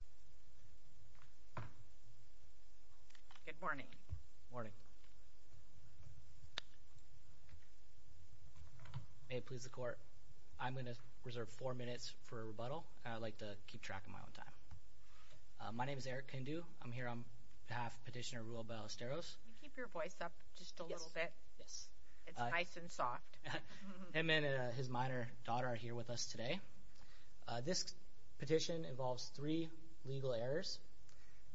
Merrick Garland Good morning, may it please the court. I'm going to reserve four minutes for rebuttal and I'd like to keep track of my own time. My name is Eric Kindu. I'm here on behalf of Petitioner Ruel Ballesteros. Can you keep your voice up just a little bit? It's nice and soft. Edmund and his minor daughter are here with us today. This petition involves three legal errors.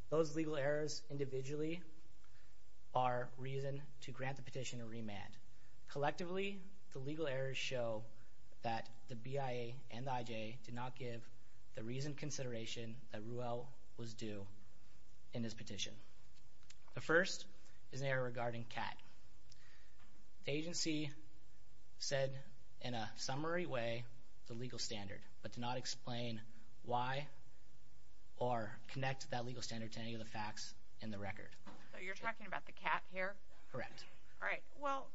Those legal errors individually are reason to grant the petition a remand. Collectively, the legal errors show that the BIA and the IJ did not give the reasoned consideration that Ruel was due in his petition. The first is an error regarding CAT. The agency said in a summary way the legal standard, but did not explain why or connect that legal standard to any of the facts in the record. So you're talking about the CAT here? Correct. All right. Well,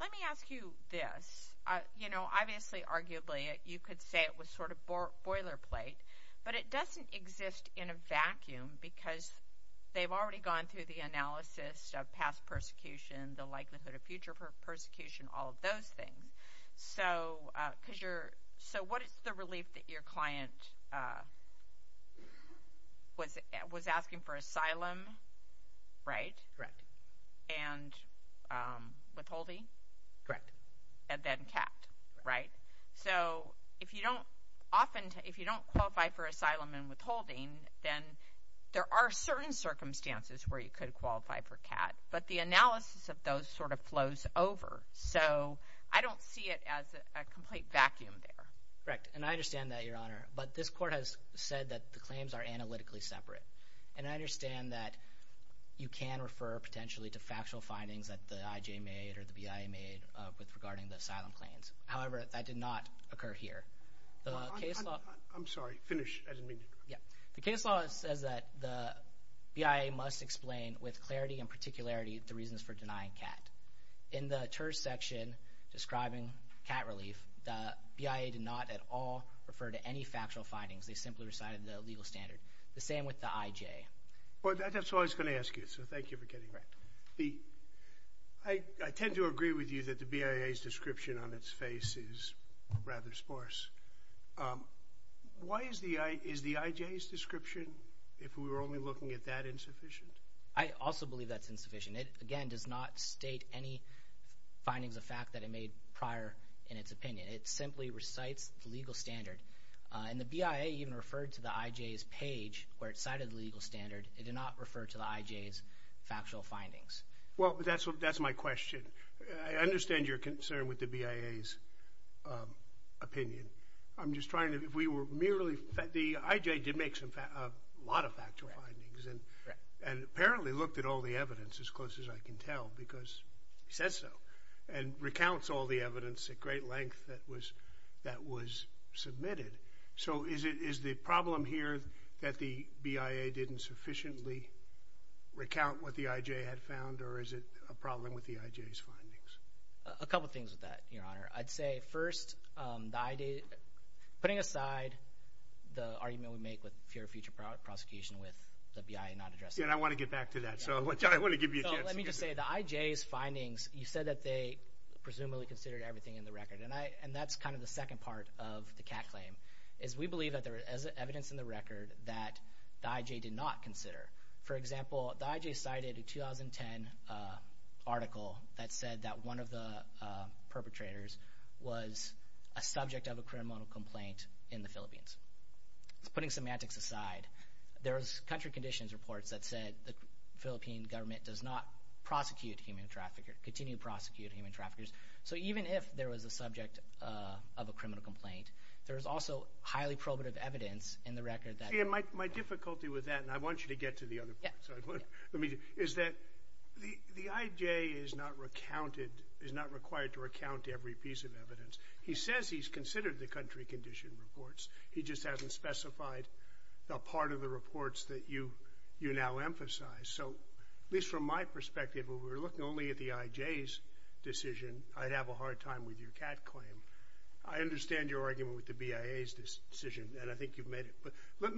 let me ask you this. You know, obviously, arguably, you could say it was sort of boilerplate, but it doesn't exist in a vacuum because they've already gone through the analysis of past persecution, the likelihood of future persecution, all of those things. So what is the relief that your client was asking for? Asylum, right? Correct. And withholding? Correct. And then CAT, right? So if you don't often, if you don't qualify for asylum and withholding, then there are certain circumstances where you could qualify for CAT, but the analysis of those sort of flows over. So I don't see it as a complete vacuum there. Correct. And I understand that, Your Honor, but this court has said that the claims are analytically separate. And I understand that you can refer potentially to factual findings that the IJ made or the BIA made with regarding the asylum claims. However, that did not occur here. I'm sorry. Finish. Yeah. The case law says that the BIA must explain with clarity and particularity the reasons for denying CAT. In the terse section describing CAT relief, the BIA did not at all refer to any factual findings. They simply recited the legal standard. The same with the IJ. Well, that's all I was going to ask you, so thank you for getting that. I tend to agree with you that the BIA's description on its face is rather sparse. Why is the IJ's description, if we were only looking at that, insufficient? I also believe that's insufficient. It, again, does not state any findings of fact that it made prior in its opinion. It simply recites the legal standard. And the BIA even referred to the IJ's page where it cited the legal standard. It did not refer to the IJ's factual findings. Well, that's my question. I understand your concern with the BIA's opinion. I'm just trying to, if we were merely, the IJ did make a lot of factual findings and apparently looked at all the evidence as close as I can tell because he says so and recounts all the evidence at great length that was submitted. So is the problem here that the BIA didn't sufficiently recount what the IJ had found or is it a problem with the IJ's findings? A couple of things with that, Your Honor. I'd say, first, putting aside the argument we make with fear of future prosecution with the BIA not addressing it. Yeah, and I want to get back to that, so I want to give you a chance to get back to that. I want to say the IJ's findings, you said that they presumably considered everything in the record, and that's kind of the second part of the CAC claim, is we believe that there is evidence in the record that the IJ did not consider. For example, the IJ cited a 2010 article that said that one of the perpetrators was a subject of a criminal complaint in the Philippines. So putting semantics aside, there was country conditions reports that said the Philippine government does not prosecute human traffickers, continue to prosecute human traffickers. So even if there was a subject of a criminal complaint, there is also highly probative evidence in the record that... My difficulty with that, and I want you to get to the other part, is that the IJ is not recounted, is not required to recount every piece of evidence. He says he's considered the country condition reports. He just hasn't specified the part of the reports that you now emphasize. So at least from my perspective, if we were looking only at the IJ's decision, I'd have a hard time with your CAC claim. I understand your argument with the BIA's decision, and I think you've made it. But let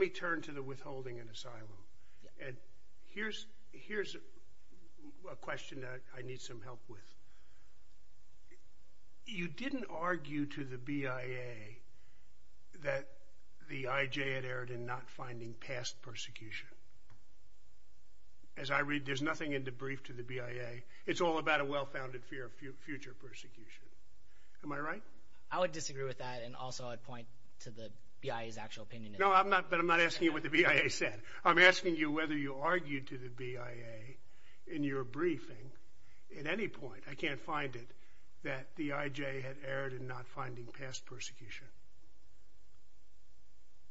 me turn to the withholding and asylum. And here's a question that I need some help with. You didn't argue to the BIA that the IJ had erred in not finding past persecution. As I read, there's nothing in the brief to the BIA. It's all about a well-founded fear of future persecution. Am I right? I would disagree with that, and also I'd point to the BIA's actual opinion. No, but I'm not asking you what the BIA said. I'm asking you whether you argued to the BIA in your briefing at any point, I can't find it, that the IJ had erred in not finding past persecution.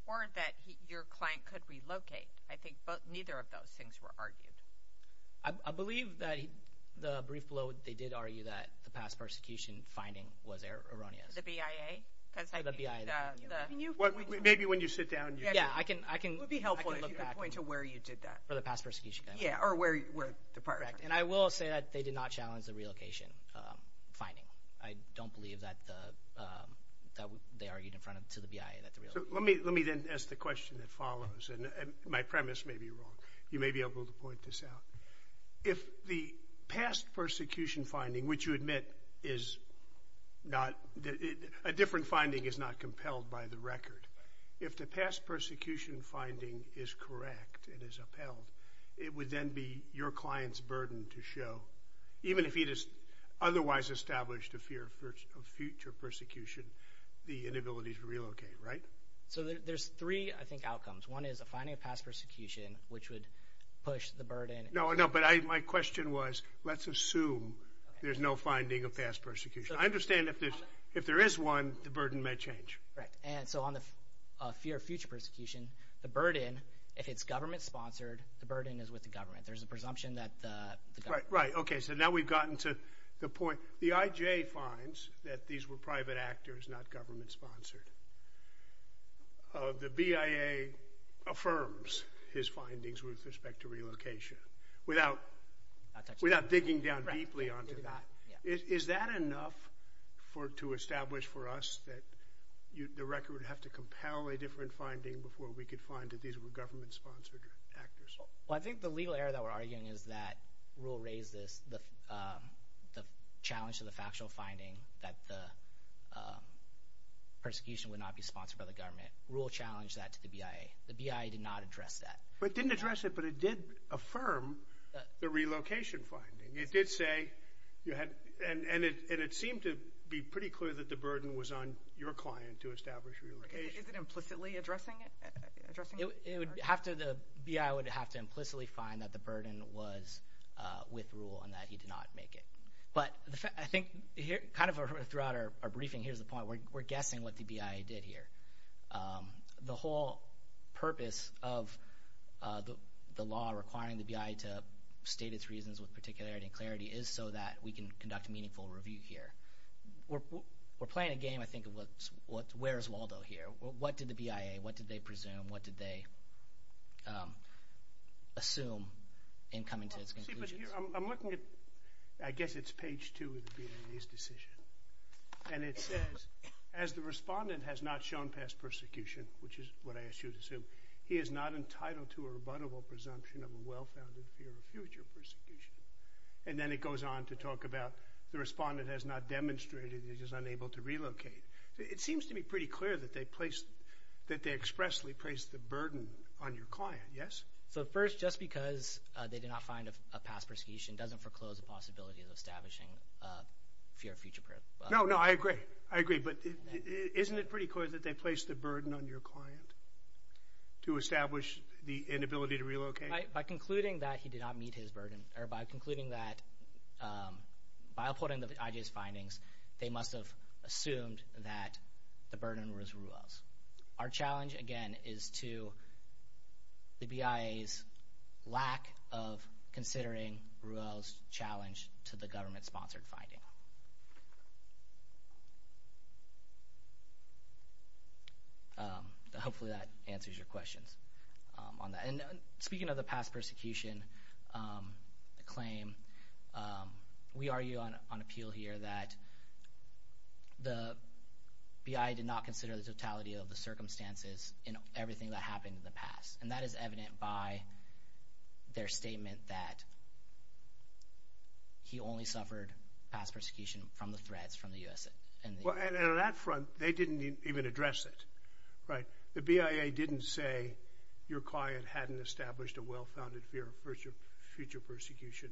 Or that your client could relocate. I think neither of those things were argued. I believe that in the brief below, they did argue that the past persecution finding was erroneous. To the BIA? To the BIA. Maybe when you sit down, I can look back. It would be helpful if you could point to where you did that. For the past persecution finding. Yeah, or where the part was. And I will say that they did not challenge the relocation finding. I don't believe that they argued in front of, to the BIA that the relocation finding was erroneous. Let me then ask the question that follows, and my premise may be wrong. You may be able to point this out. If the past persecution finding, which you admit is not, a different finding is not compelled by the record, if the past persecution finding is correct and is upheld, it would then be your client's burden to show, even if he just otherwise established a fear of future persecution, the inability to relocate, right? So there's three, I think, outcomes. One is a finding of past persecution, which would push the burden. No, no, but my question was, let's assume there's no finding of past persecution. I understand if there is one, the burden may change. Correct. And so on the fear of future persecution, the burden, if it's government sponsored, the burden is with the government. There's a presumption that the government... Right, right. Okay, so now we've gotten to the point. The IJ finds that these were private actors, not government sponsored. The BIA affirms his findings with respect to relocation, without digging down deeply onto that. Is that enough to establish for us that the record would have to compel a different finding before we could find that these were government sponsored actors? Well, I think the legal error that we're arguing is that rule raised this, the challenge to the factual finding that the persecution would not be sponsored by the government. Rule challenged that to the BIA. The BIA did not address that. But it didn't address it, but it did affirm the relocation finding. It did say, and it seemed to be pretty clear that the burden was on your client to establish relocation. Is it implicitly addressing it? The BIA would have to implicitly find that the burden was with rule and that he did not make it. But I think kind of throughout our briefing, here's the point. We're guessing what the BIA did here. The whole purpose of the law requiring the BIA to state its reasons with particularity and clarity is so that we can conduct a meaningful review here. We're not going to say, well, what did the BIA do? What did they assume in coming to this conclusion? I'm looking at, I guess it's page two of the BIA's decision. And it says, as the respondent has not shown past persecution, which is what I ask you to assume, he is not entitled to a rebuttable presumption of a well-founded fear of future persecution. And then it goes on to talk about the respondent has not demonstrated that he is unable to relocate. It seems to me that they expressly place the burden on your client. Yes? So first, just because they did not find a past persecution doesn't foreclose the possibility of establishing a fear of future persecution. No, no, I agree. I agree. But isn't it pretty clear that they place the burden on your client to establish the inability to relocate? By concluding that he did not meet his burden, or by concluding that, by reporting the IJS findings, they must have assumed that the burden was Ruel's. Our challenge, again, is to the BIA's lack of considering Ruel's challenge to the government-sponsored finding. Hopefully that answers your questions on that. Speaking of the past persecution claim, we argue on appeal here that the BIA did not consider the totality of the circumstances in everything that happened in the past. And that is evident by their statement that he only suffered past persecution from the threats from the U.S. and the U.S. The BIA didn't say your client hadn't established a well-founded fear of future persecution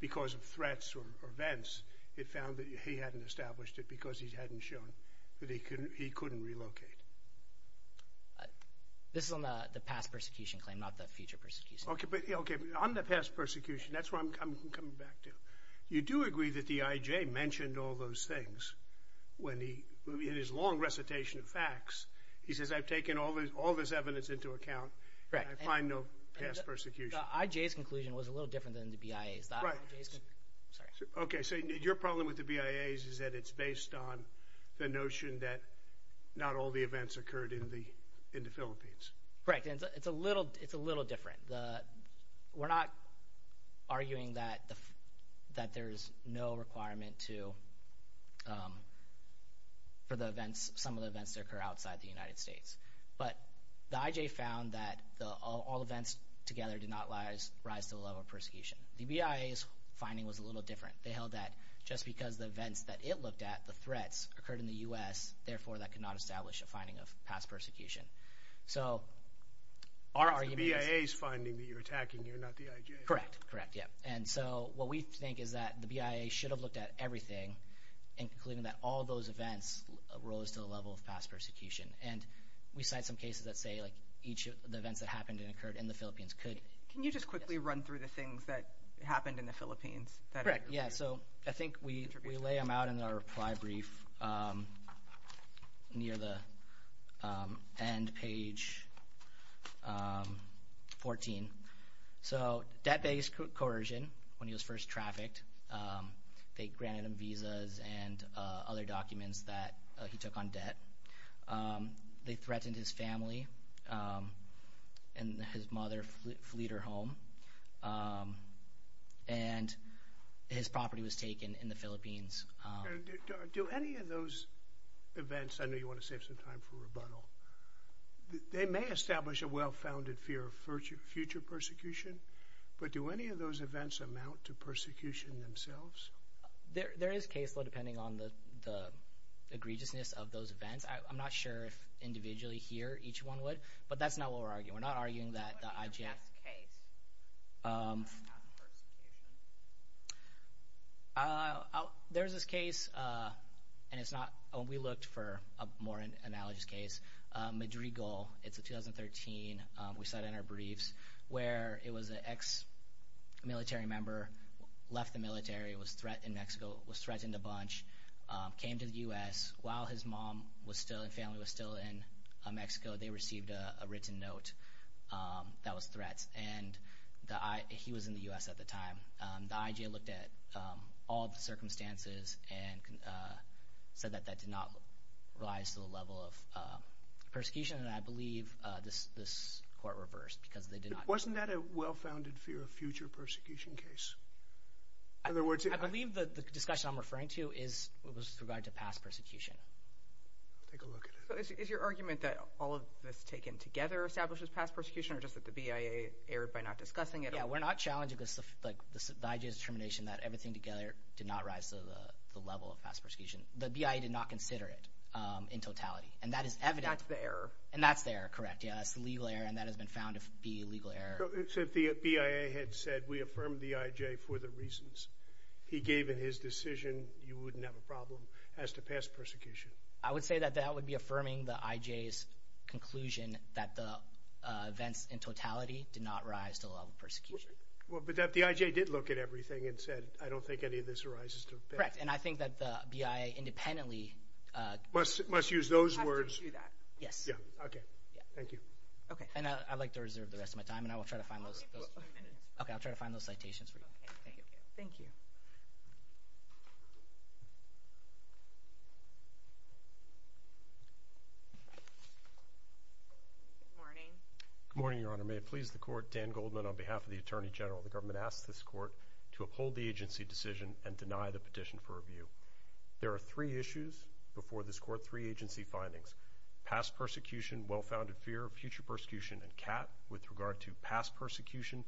because of threats or events. It found that he hadn't established it because he hadn't shown that he couldn't relocate. This is on the past persecution claim, not the future persecution claim. Okay, but on the past persecution, that's where I'm coming back to. You do agree that the IJ mentioned all those things when he, in his long recitation of facts, he says I've taken all this evidence into account and I find no past persecution. The IJ's conclusion was a little different than the BIA's. Okay, so your problem with the BIA's is that it's based on the notion that not all the events occurred in the Philippines. Correct, and it's a little different. We're not arguing that there's no requirement for some of the events to occur outside the United States, but the IJ found that all events together did not rise to the level of persecution. The BIA's finding was a little different. They held that just because the events that it looked at, the threats, occurred in the U.S., therefore that could not establish a finding of past persecution. So, our argument is... It's the BIA's finding that you're attacking, you're not the IJ. Correct, correct, yeah, and so what we think is that the BIA should have looked at everything and concluded that all those events rose to the level of past persecution, and we cite some cases that say each of the events that happened and occurred in the Philippines could... Can you just quickly run through the things that happened in the Philippines? Correct, yeah, so I think we lay them out in our reply brief near the end page 14. So, debt-based coercion when he was first trafficked. They granted him visas and other documents that he took on debt. They threatened his family, and his mother fled her home, and his property was taken in the Philippines. Do any of those events... I know you want to save some time for rebuttal. They may establish a well-founded fear of future persecution, but do any of those events amount to persecution themselves? There is caseload depending on the egregiousness of those events. I'm not sure if individually here each one would, but that's not what we're arguing. We're not arguing that the IJF... What is your best case of past persecution? There's this case, and we looked for a more analogous case, Madrigal. It's a 2013... We cite it in our briefs, where it was an ex-military member, left the military, was threatened in Mexico, was threatened a bunch, came to the U.S. While his mom and family was still in Mexico, they received a written note that was threats. He was in the U.S. at the time. The IJF looked at all the circumstances and said that that did not rise to the level of persecution, and I believe this court reversed because they did not... Wasn't that a well-founded fear of future persecution case? I believe the discussion I'm referring to was with regard to past persecution. Take a look at it. So is your argument that all of this taken together establishes past persecution, or just that the BIA erred by not discussing it? Yeah, we're not challenging the IJF's determination that everything together did not rise to the level of past persecution. The BIA did not consider it in totality, and that is evident. That's the error. And that's the error, correct. Yeah, that's the legal error, and that has been found to be a legal error. So if the BIA had said, we affirm the IJF for the reasons he gave in his decision, you wouldn't have a problem as to past persecution? I would say that that would be affirming the IJF's conclusion that the events in totality did not rise to the level of persecution. Well, but the IJF did look at everything and said, I don't think any of this arises to... Correct, and I think that the BIA independently... Must use those words. Yes. Yeah, okay. Thank you. And I'd like to reserve the rest of my time, and I will try to find those citations for you. Thank you. Good morning. Good morning, Your Honor. May it please the Court, Dan Goldman on behalf of the Attorney General. The government asks this Court to uphold the agency decision and deny the petition for review. There are three issues before this Court, three agency findings, past persecution, well-founded fear, future persecution, and cap. With regard to past persecution,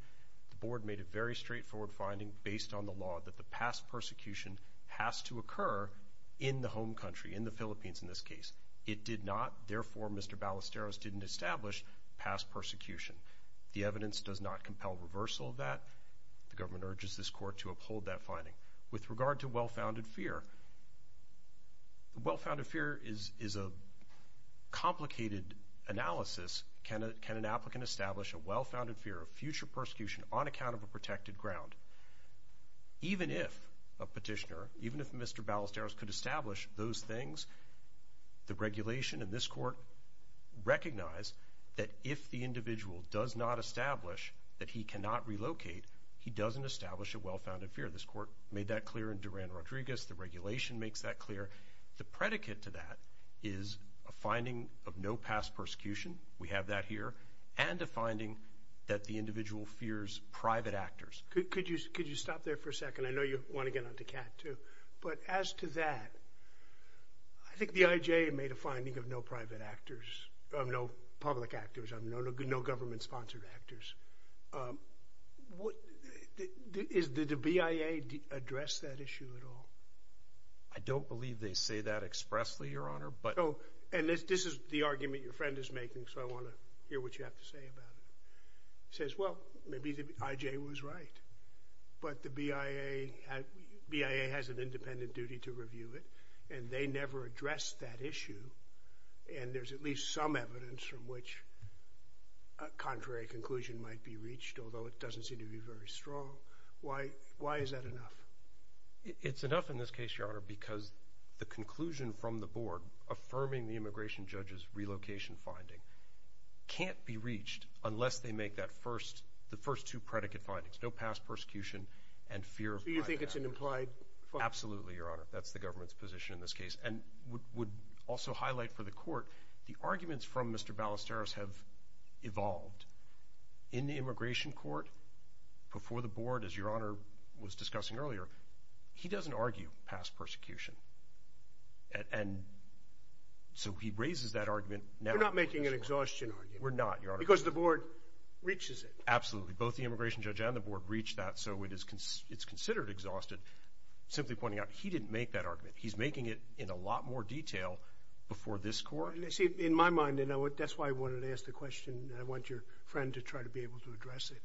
the Board made a very straightforward finding based on the law that the past persecution has to occur in the home country, in the Philippines in this case. It did not. Therefore, Mr. Ballesteros didn't establish past persecution. The evidence does not compel reversal of that. The government urges this Court to uphold that finding. With regard to well-founded fear, well-founded fear is a complicated analysis. Can an applicant establish a well-founded fear of future persecution on account of a protected ground? Even if a petitioner, even if Mr. Ballesteros could establish those things, the regulation and this Court recognize that if the individual does not establish that he cannot relocate, he doesn't establish a well-founded fear. This Court made that clear in Duran-Rodriguez. The regulation makes that clear. The predicate to that is a finding of no past persecution. We have that here, and a finding that the individual fears private actors. Could you stop there for a second? I know you want to get on to Kat, too. But as to that, I think the IJ made a finding of no private actors, of no public actors, of no government-sponsored actors. Did the BIA address that issue at all? I don't believe they say that expressly, Your Honor. And this is the argument your friend is making, so I want to hear what you have to say about it. He says, well, maybe the IJ was right, but the BIA has an independent duty to review it, and they never addressed that issue, and there's at least some evidence from which a contrary conclusion might be reached, although it doesn't seem to be very strong. Why is that enough? It's enough in this case, Your Honor, because the conclusion from the Board affirming the immigration judge's relocation finding can't be reached unless they make the first two predicate findings, no past persecution and fear of private actors. So you think it's an implied finding? Absolutely, Your Honor. That's the government's position in this case. And I would also highlight for the Court, the arguments from Mr. Ballesteros have evolved. In the immigration court, before the Board, as Your Honor was discussing earlier, he doesn't argue past persecution, and so he raises that argument now. We're not making an exhaustion argument. We're not, Your Honor. Because the Board reaches it. Absolutely. Both the immigration judge and the Board reach that, so it's considered exhausted. Simply pointing out, he didn't make that argument. He's making it in a lot more detail before this Court. See, in my mind, and that's why I wanted to ask the question, and I want your friend to try to be able to address it,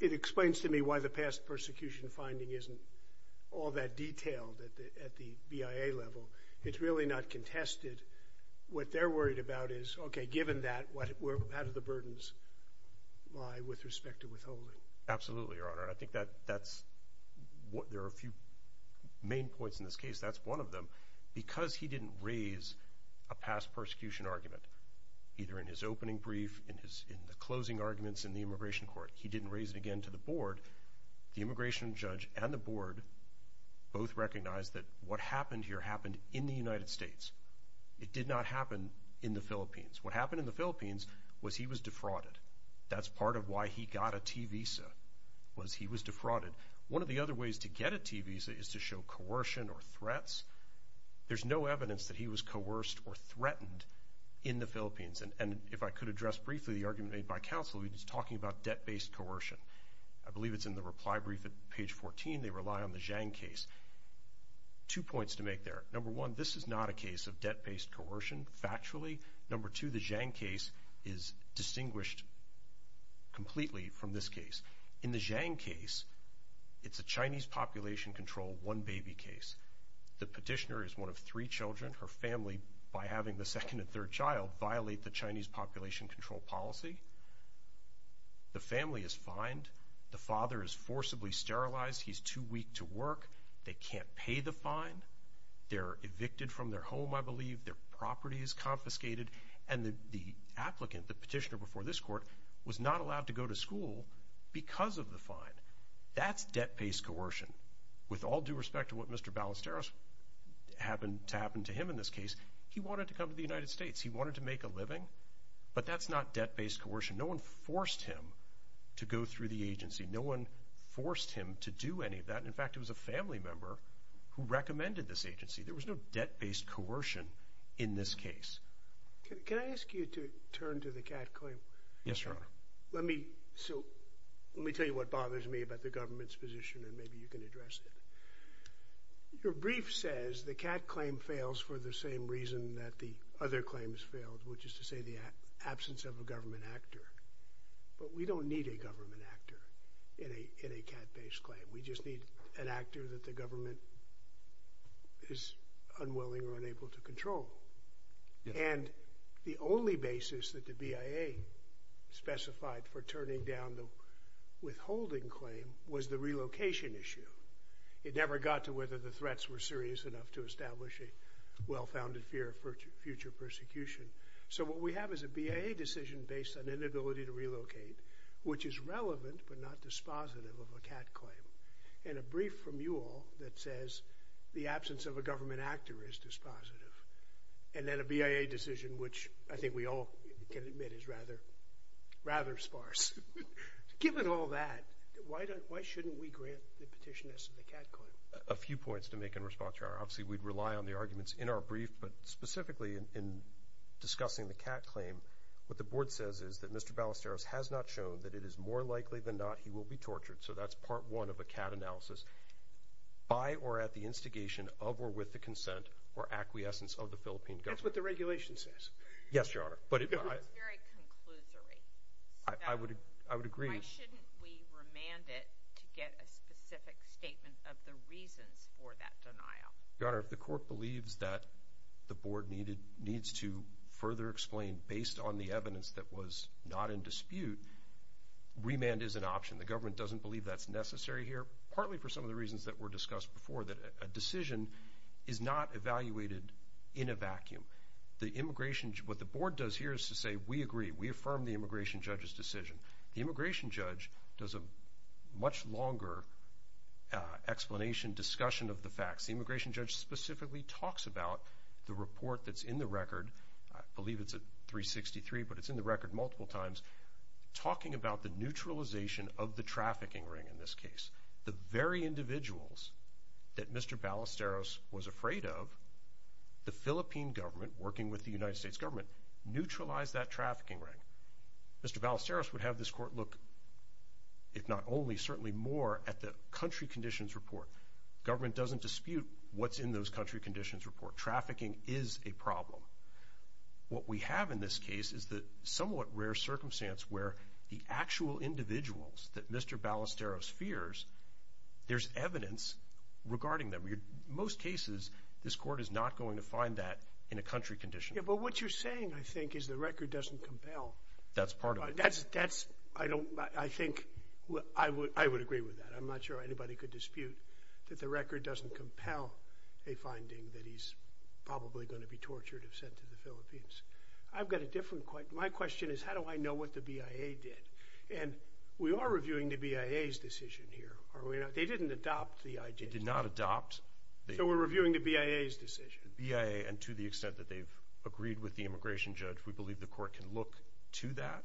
it explains to me why the past persecution finding isn't all that detailed at the BIA level. It's really not contested. What they're worried about is, okay, given that, how do the burdens lie with respect to withholding? Absolutely, Your Honor. I think that's what there are a few main points in this case. That's one of them. Because he didn't raise a past persecution argument, either in his opening brief, in the closing arguments in the immigration court, he didn't raise it again to the Board, the immigration judge and the Board both recognize that what happened here happened in the United States. It did not happen in the Philippines. What happened in the Philippines was he was defrauded. That's part of why he got a T visa, was he was defrauded. One of the other ways to get a T visa is to show coercion or threats. There's no evidence that he was coerced or threatened in the Philippines. And if I could address briefly the argument made by counsel, he was talking about debt-based coercion. I believe it's in the reply brief at page 14. They rely on the Zhang case. Two points to make there. Number one, this is not a case of debt-based coercion, factually. Number two, the Zhang case is distinguished completely from this case. In the Zhang case, it's a Chinese population control one baby case. The petitioner is one of three children. Her family, by having the second and third child, violate the Chinese population control policy. The family is fined. The father is forcibly sterilized. He's too weak to work. They can't pay the fine. They're evicted from their home, I believe. Their property is confiscated. And the applicant, the petitioner before this court, was not allowed to go to school because of the fine. That's debt-based coercion. With all due respect to what Mr. Ballesteros happened to happen to him in this case, he wanted to come to the United States. He wanted to make a living. But that's not debt-based coercion. No one forced him to go through the agency. No one forced him to do any of that. In fact, it was a family member who recommended this agency. There was no debt-based coercion in this case. Can I ask you to turn to the Catt claim? Yes, Your Honor. Let me tell you what bothers me about the government's position, and maybe you can address it. Your brief says the Catt claim fails for the same reason that the other claims failed, which is to say the absence of a government actor. But we don't need a government actor in a Catt-based claim. We just need an actor that the government is unwilling or unable to control. And the only basis that the BIA specified for turning down the withholding claim was the relocation issue. It never got to whether the threats were serious enough to establish a well-founded fear of future persecution. So what we have is a BIA decision based on inability to relocate, which is relevant but not dispositive of a Catt claim, and a brief from you all that says the absence of a government actor is dispositive, and then a BIA decision which I think we all can admit is rather sparse. Given all that, why shouldn't we grant the petitioners the Catt claim? A few points to make in response, Your Honor. Obviously, we'd rely on the arguments in our brief, but specifically in discussing the Catt claim, what the board says is that Mr. Ballesteros has not shown that it is more likely than not he will be tortured. So that's part one of a Catt analysis. By or at the instigation of or with the consent or acquiescence of the Philippine government. That's what the regulation says. Yes, Your Honor. But it's very conclusory. I would agree. Why shouldn't we remand it to get a specific statement of the reasons for that denial? Your Honor, if the court believes that the board needs to further explain, based on the evidence that was not in dispute, remand is an option. The government doesn't believe that's necessary here, partly for some of the reasons that were discussed before, that a decision is not evaluated in a vacuum. What the board does here is to say, we agree. We affirm the immigration judge's decision. The immigration judge does a much longer explanation, discussion of the facts. The immigration judge specifically talks about the report that's in the record. I believe it's at 363, but it's in the record multiple times, talking about the neutralization of the trafficking ring in this case. The very individuals that Mr. Ballesteros was afraid of, the Philippine government working with the United States government, neutralized that trafficking ring. Mr. Ballesteros would have this court look, if not only, certainly more, at the country conditions report. The government doesn't dispute what's in those country conditions report. Trafficking is a problem. What we have in this case is the somewhat rare circumstance where the actual individuals that Mr. Ballesteros fears, there's evidence regarding them. In most cases, this court is not going to find that in a country condition. But what you're saying, I think, is the record doesn't compel. That's part of it. That's, I don't, I think, I would agree with that. I'm not sure anybody could dispute that the record doesn't compel a finding that he's probably going to be tortured if sent to the Philippines. I've got a different question. My question is how do I know what the BIA did? And we are reviewing the BIA's decision here. They didn't adopt the IJC. They did not adopt. So we're reviewing the BIA's decision. The BIA, and to the extent that they've agreed with the immigration judge, we believe the court can look to that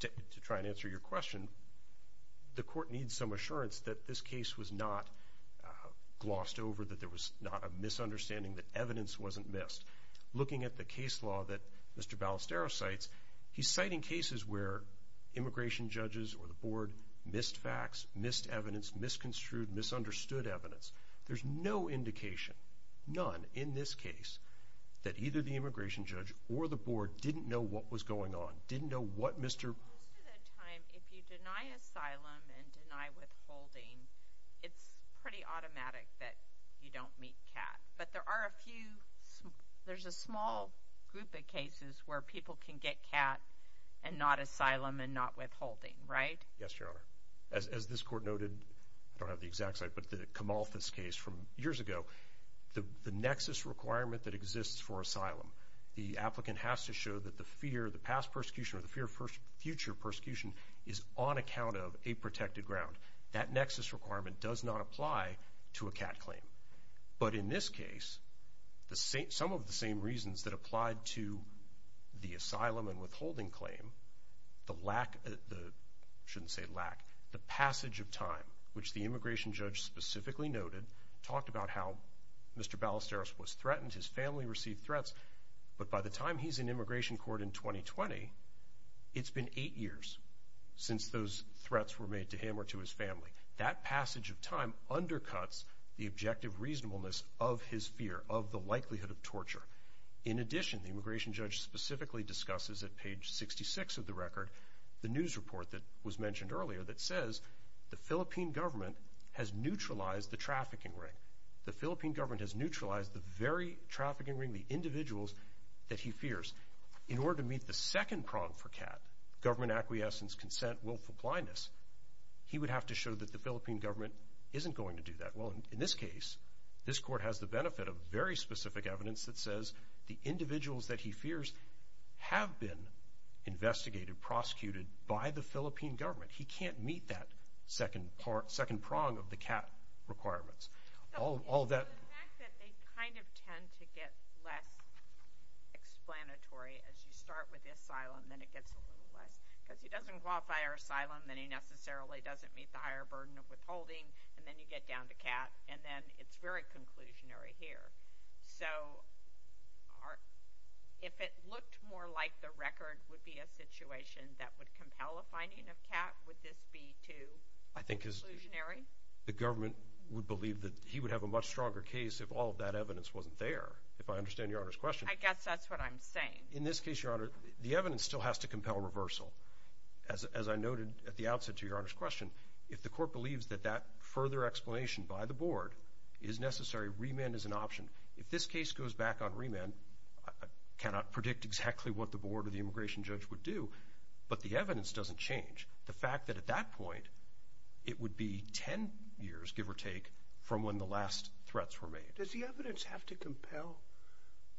to try and answer your question. The court needs some assurance that this case was not glossed over, that there was not a misunderstanding, that evidence wasn't missed. Looking at the case law that Mr. Ballesteros cites, he's citing cases where immigration judges or the board missed facts, missed evidence, misconstrued, misunderstood evidence. There's no indication, none, in this case, that either the immigration judge or the board didn't know what was going on, didn't know what Mr. – Most of the time, if you deny asylum and deny withholding, it's pretty automatic that you don't meet CAT. But there are a few – there's a small group of cases where people can get CAT and not asylum and not withholding, right? Yes, Your Honor. As this court noted, I don't have the exact site, but the Kamalthas case from years ago, the nexus requirement that exists for asylum, the applicant has to show that the fear, the past persecution or the fear of future persecution is on account of a protected ground. That nexus requirement does not apply to a CAT claim. But in this case, some of the same reasons that applied to the asylum and withholding claim, the lack – I shouldn't say lack – the passage of time, which the immigration judge specifically noted, talked about how Mr. Ballesteros was threatened, his family received threats, but by the time he's in immigration court in 2020, it's been eight years since those threats were made to him or to his family. That passage of time undercuts the objective reasonableness of his fear, of the likelihood of torture. In addition, the immigration judge specifically discusses at page 66 of the record the news report that was mentioned earlier that says the Philippine government has neutralized the trafficking ring. The Philippine government has neutralized the very trafficking ring, the individuals that he fears. In order to meet the second prong for CAT, government acquiescence, consent, willful blindness, he would have to show that the Philippine government isn't going to do that. Well, in this case, this court has the benefit of very specific evidence that says the individuals that he fears have been investigated, prosecuted by the Philippine government. He can't meet that second prong of the CAT requirements. The fact that they kind of tend to get less explanatory as you start with asylum, then it gets a little less, because he doesn't qualify for asylum, then he necessarily doesn't meet the higher burden of withholding, and then you get down to CAT, and then it's very conclusionary here. So if it looked more like the record would be a situation that would compel a finding of CAT, would this be too conclusionary? The government would believe that he would have a much stronger case if all of that evidence wasn't there. If I understand Your Honor's question. I guess that's what I'm saying. In this case, Your Honor, the evidence still has to compel reversal. As I noted at the outset to Your Honor's question, if the court believes that that further explanation by the board is necessary, remand is an option. If this case goes back on remand, I cannot predict exactly what the board or the immigration judge would do, but the evidence doesn't change. The fact that at that point, it would be 10 years, give or take, from when the last threats were made. Does the evidence have to compel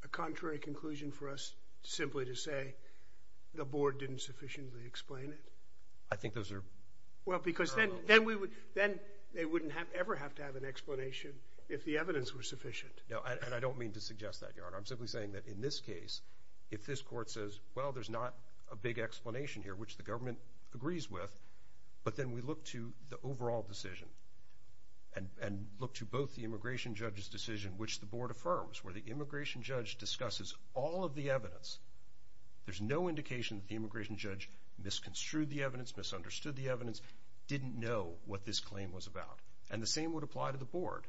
a contrary conclusion for us simply to say the board didn't sufficiently explain it? I think those are parallel. Well, because then they wouldn't ever have to have an explanation if the evidence were sufficient. No, and I don't mean to suggest that, Your Honor. I'm simply saying that in this case, if this court says, well, there's not a big explanation here, which the government agrees with, but then we look to the overall decision and look to both the immigration judge's decision, which the board affirms, where the immigration judge discusses all of the evidence. There's no indication that the immigration judge misconstrued the evidence, misunderstood the evidence, didn't know what this claim was about, and the same would apply to the board.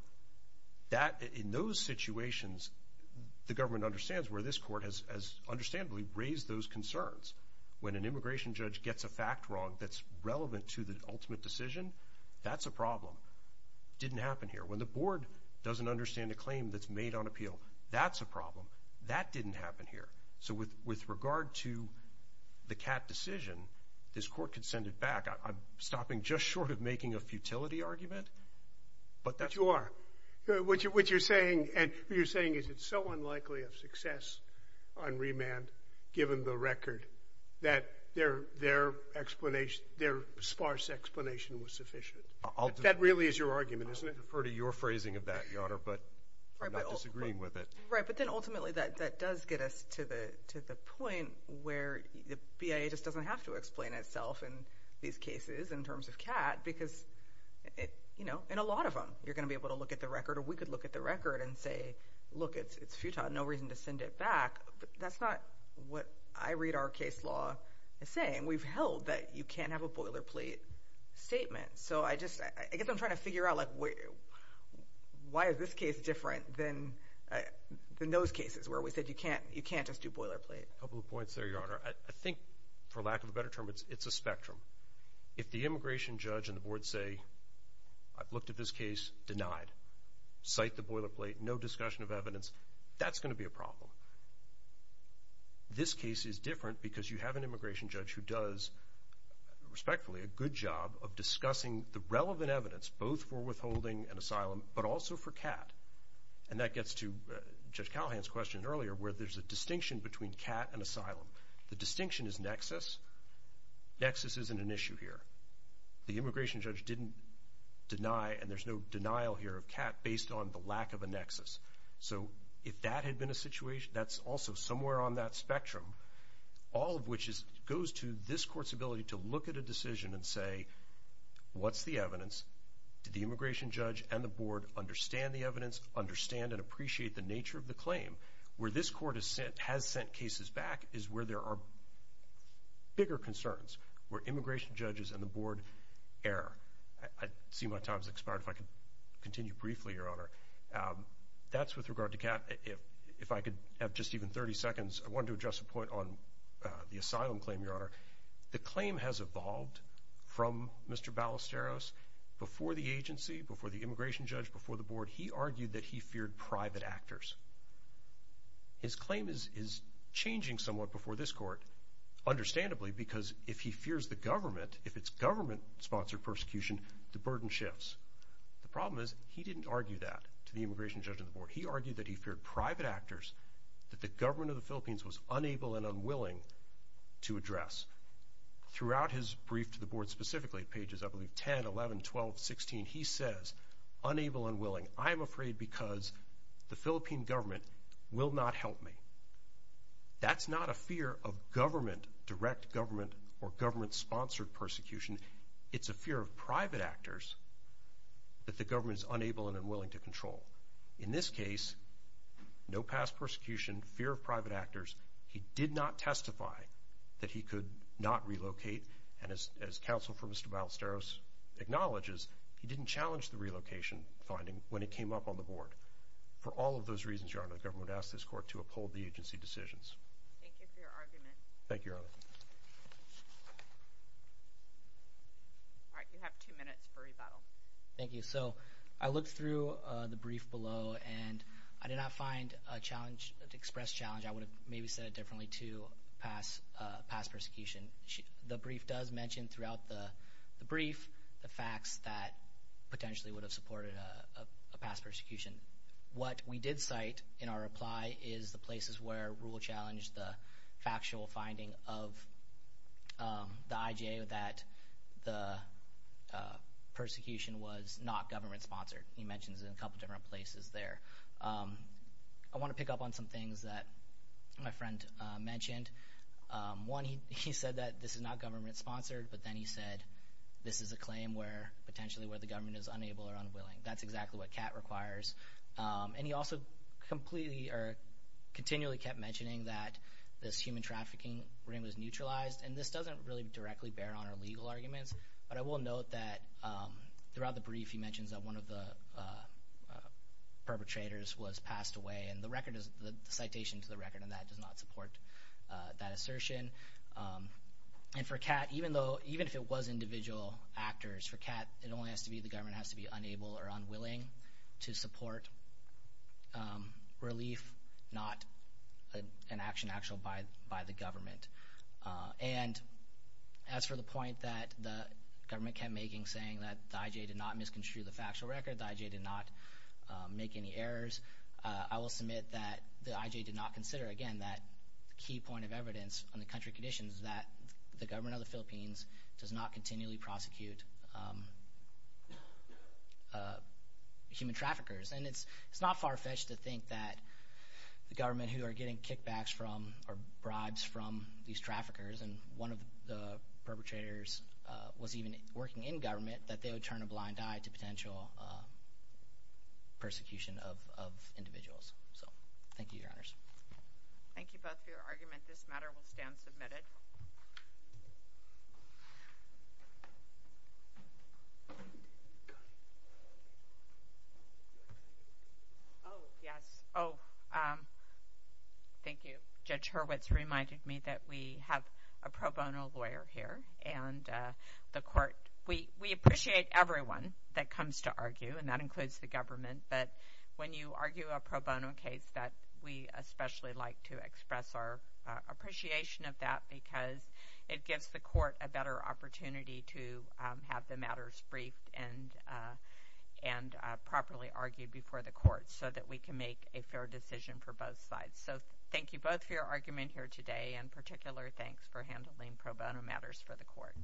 In those situations, the government understands where this court has, understandably, raised those concerns. When an immigration judge gets a fact wrong that's relevant to the ultimate decision, that's a problem. Didn't happen here. When the board doesn't understand a claim that's made on appeal, that's a problem. That didn't happen here. So with regard to the Catt decision, this court could send it back. I'm stopping just short of making a futility argument. But you are. What you're saying is it's so unlikely of success on remand, given the record, that their sparse explanation was sufficient. That really is your argument, isn't it? I'll defer to your phrasing of that, Your Honor, but I'm not disagreeing with it. Right, but then ultimately that does get us to the point where the BIA just doesn't have to explain itself in these cases in terms of Catt because, you know, in a lot of them, you're going to be able to look at the record, or we could look at the record and say, look, it's futile, no reason to send it back. That's not what I read our case law as saying. We've held that you can't have a boilerplate statement. So I just, I guess I'm trying to figure out, like, why is this case different than those cases where we said you can't just do boilerplate? A couple of points there, Your Honor. I think, for lack of a better term, it's a spectrum. If the immigration judge and the board say, I've looked at this case, denied, cite the boilerplate, no discussion of evidence, that's going to be a problem. This case is different because you have an immigration judge who does, respectfully, a good job of discussing the relevant evidence, both for withholding and asylum, but also for Catt. And that gets to Judge Callahan's question earlier where there's a distinction between Catt and asylum. The distinction is nexus. Nexus isn't an issue here. The immigration judge didn't deny, and there's no denial here of Catt based on the lack of a nexus. So if that had been a situation, that's also somewhere on that spectrum, all of which goes to this court's ability to look at a decision and say, what's the evidence? Did the immigration judge and the board understand the evidence, understand and appreciate the nature of the claim? Where this court has sent cases back is where there are bigger concerns, where immigration judges and the board err. I see my time has expired. If I could continue briefly, Your Honor. That's with regard to Catt. If I could have just even 30 seconds, I wanted to address a point on the asylum claim, Your Honor. The claim has evolved from Mr. Ballesteros. Before the agency, before the immigration judge, before the board, he argued that he feared private actors. His claim is changing somewhat before this court, understandably, because if he fears the government, if it's government-sponsored persecution, the burden shifts. The problem is he didn't argue that to the immigration judge and the board. He argued that he feared private actors that the government of the Philippines was unable and unwilling to address. Throughout his brief to the board, specifically at pages, I believe, 10, 11, 12, 16, he says, unable and willing. I am afraid because the Philippine government will not help me. That's not a fear of government, direct government, or government-sponsored persecution. It's a fear of private actors that the government is unable and unwilling to control. In this case, no past persecution, fear of private actors. He did not testify that he could not relocate. And as counsel for Mr. Ballesteros acknowledges, he didn't challenge the relocation finding when it came up on the board. For all of those reasons, Your Honor, the government asked this court to uphold the agency decisions. Thank you for your argument. Thank you, Your Honor. All right, you have two minutes for rebuttal. Thank you. So I looked through the brief below, and I did not find a challenge, an express challenge. I would have maybe said it differently, too, past persecution. The brief does mention throughout the brief the facts that potentially would have supported a past persecution. What we did cite in our reply is the places where rule challenged the factual finding of the IJA that the persecution was not government-sponsored. He mentions it in a couple different places there. I want to pick up on some things that my friend mentioned. One, he said that this is not government-sponsored, but then he said this is a claim potentially where the government is unable or unwilling. That's exactly what CAT requires. And he also continually kept mentioning that this human trafficking ring was neutralized, and this doesn't really directly bear on our legal arguments. But I will note that throughout the brief he mentions that one of the perpetrators was passed away, and the citation to the record on that does not support that assertion. And for CAT, even if it was individual actors, for CAT, it only has to be the government has to be unable or unwilling to support relief, not an action actual by the government. And as for the point that the government kept making, saying that the IJA did not misconstrue the factual record, the IJA did not make any errors, I will submit that the IJA did not consider, again, that key point of evidence on the country conditions, that the government of the Philippines does not continually prosecute human traffickers. And it's not far-fetched to think that the government who are getting kickbacks from or bribes from these traffickers and one of the perpetrators was even working in government, that they would turn a blind eye to potential persecution of individuals. So thank you, Your Honors. Thank you both for your argument. This matter will stand submitted. Oh, yes. Oh, thank you. Judge Hurwitz reminded me that we have a pro bono lawyer here, and the court, we appreciate everyone that comes to argue, and that includes the government, but when you argue a pro bono case that we especially like to express our appreciation of that because it gives the court a better opportunity to have the matters briefed and properly argued before the court so that we can make a fair decision for both sides. So thank you both for your argument here today, and in particular thanks for handling pro bono matters for the court.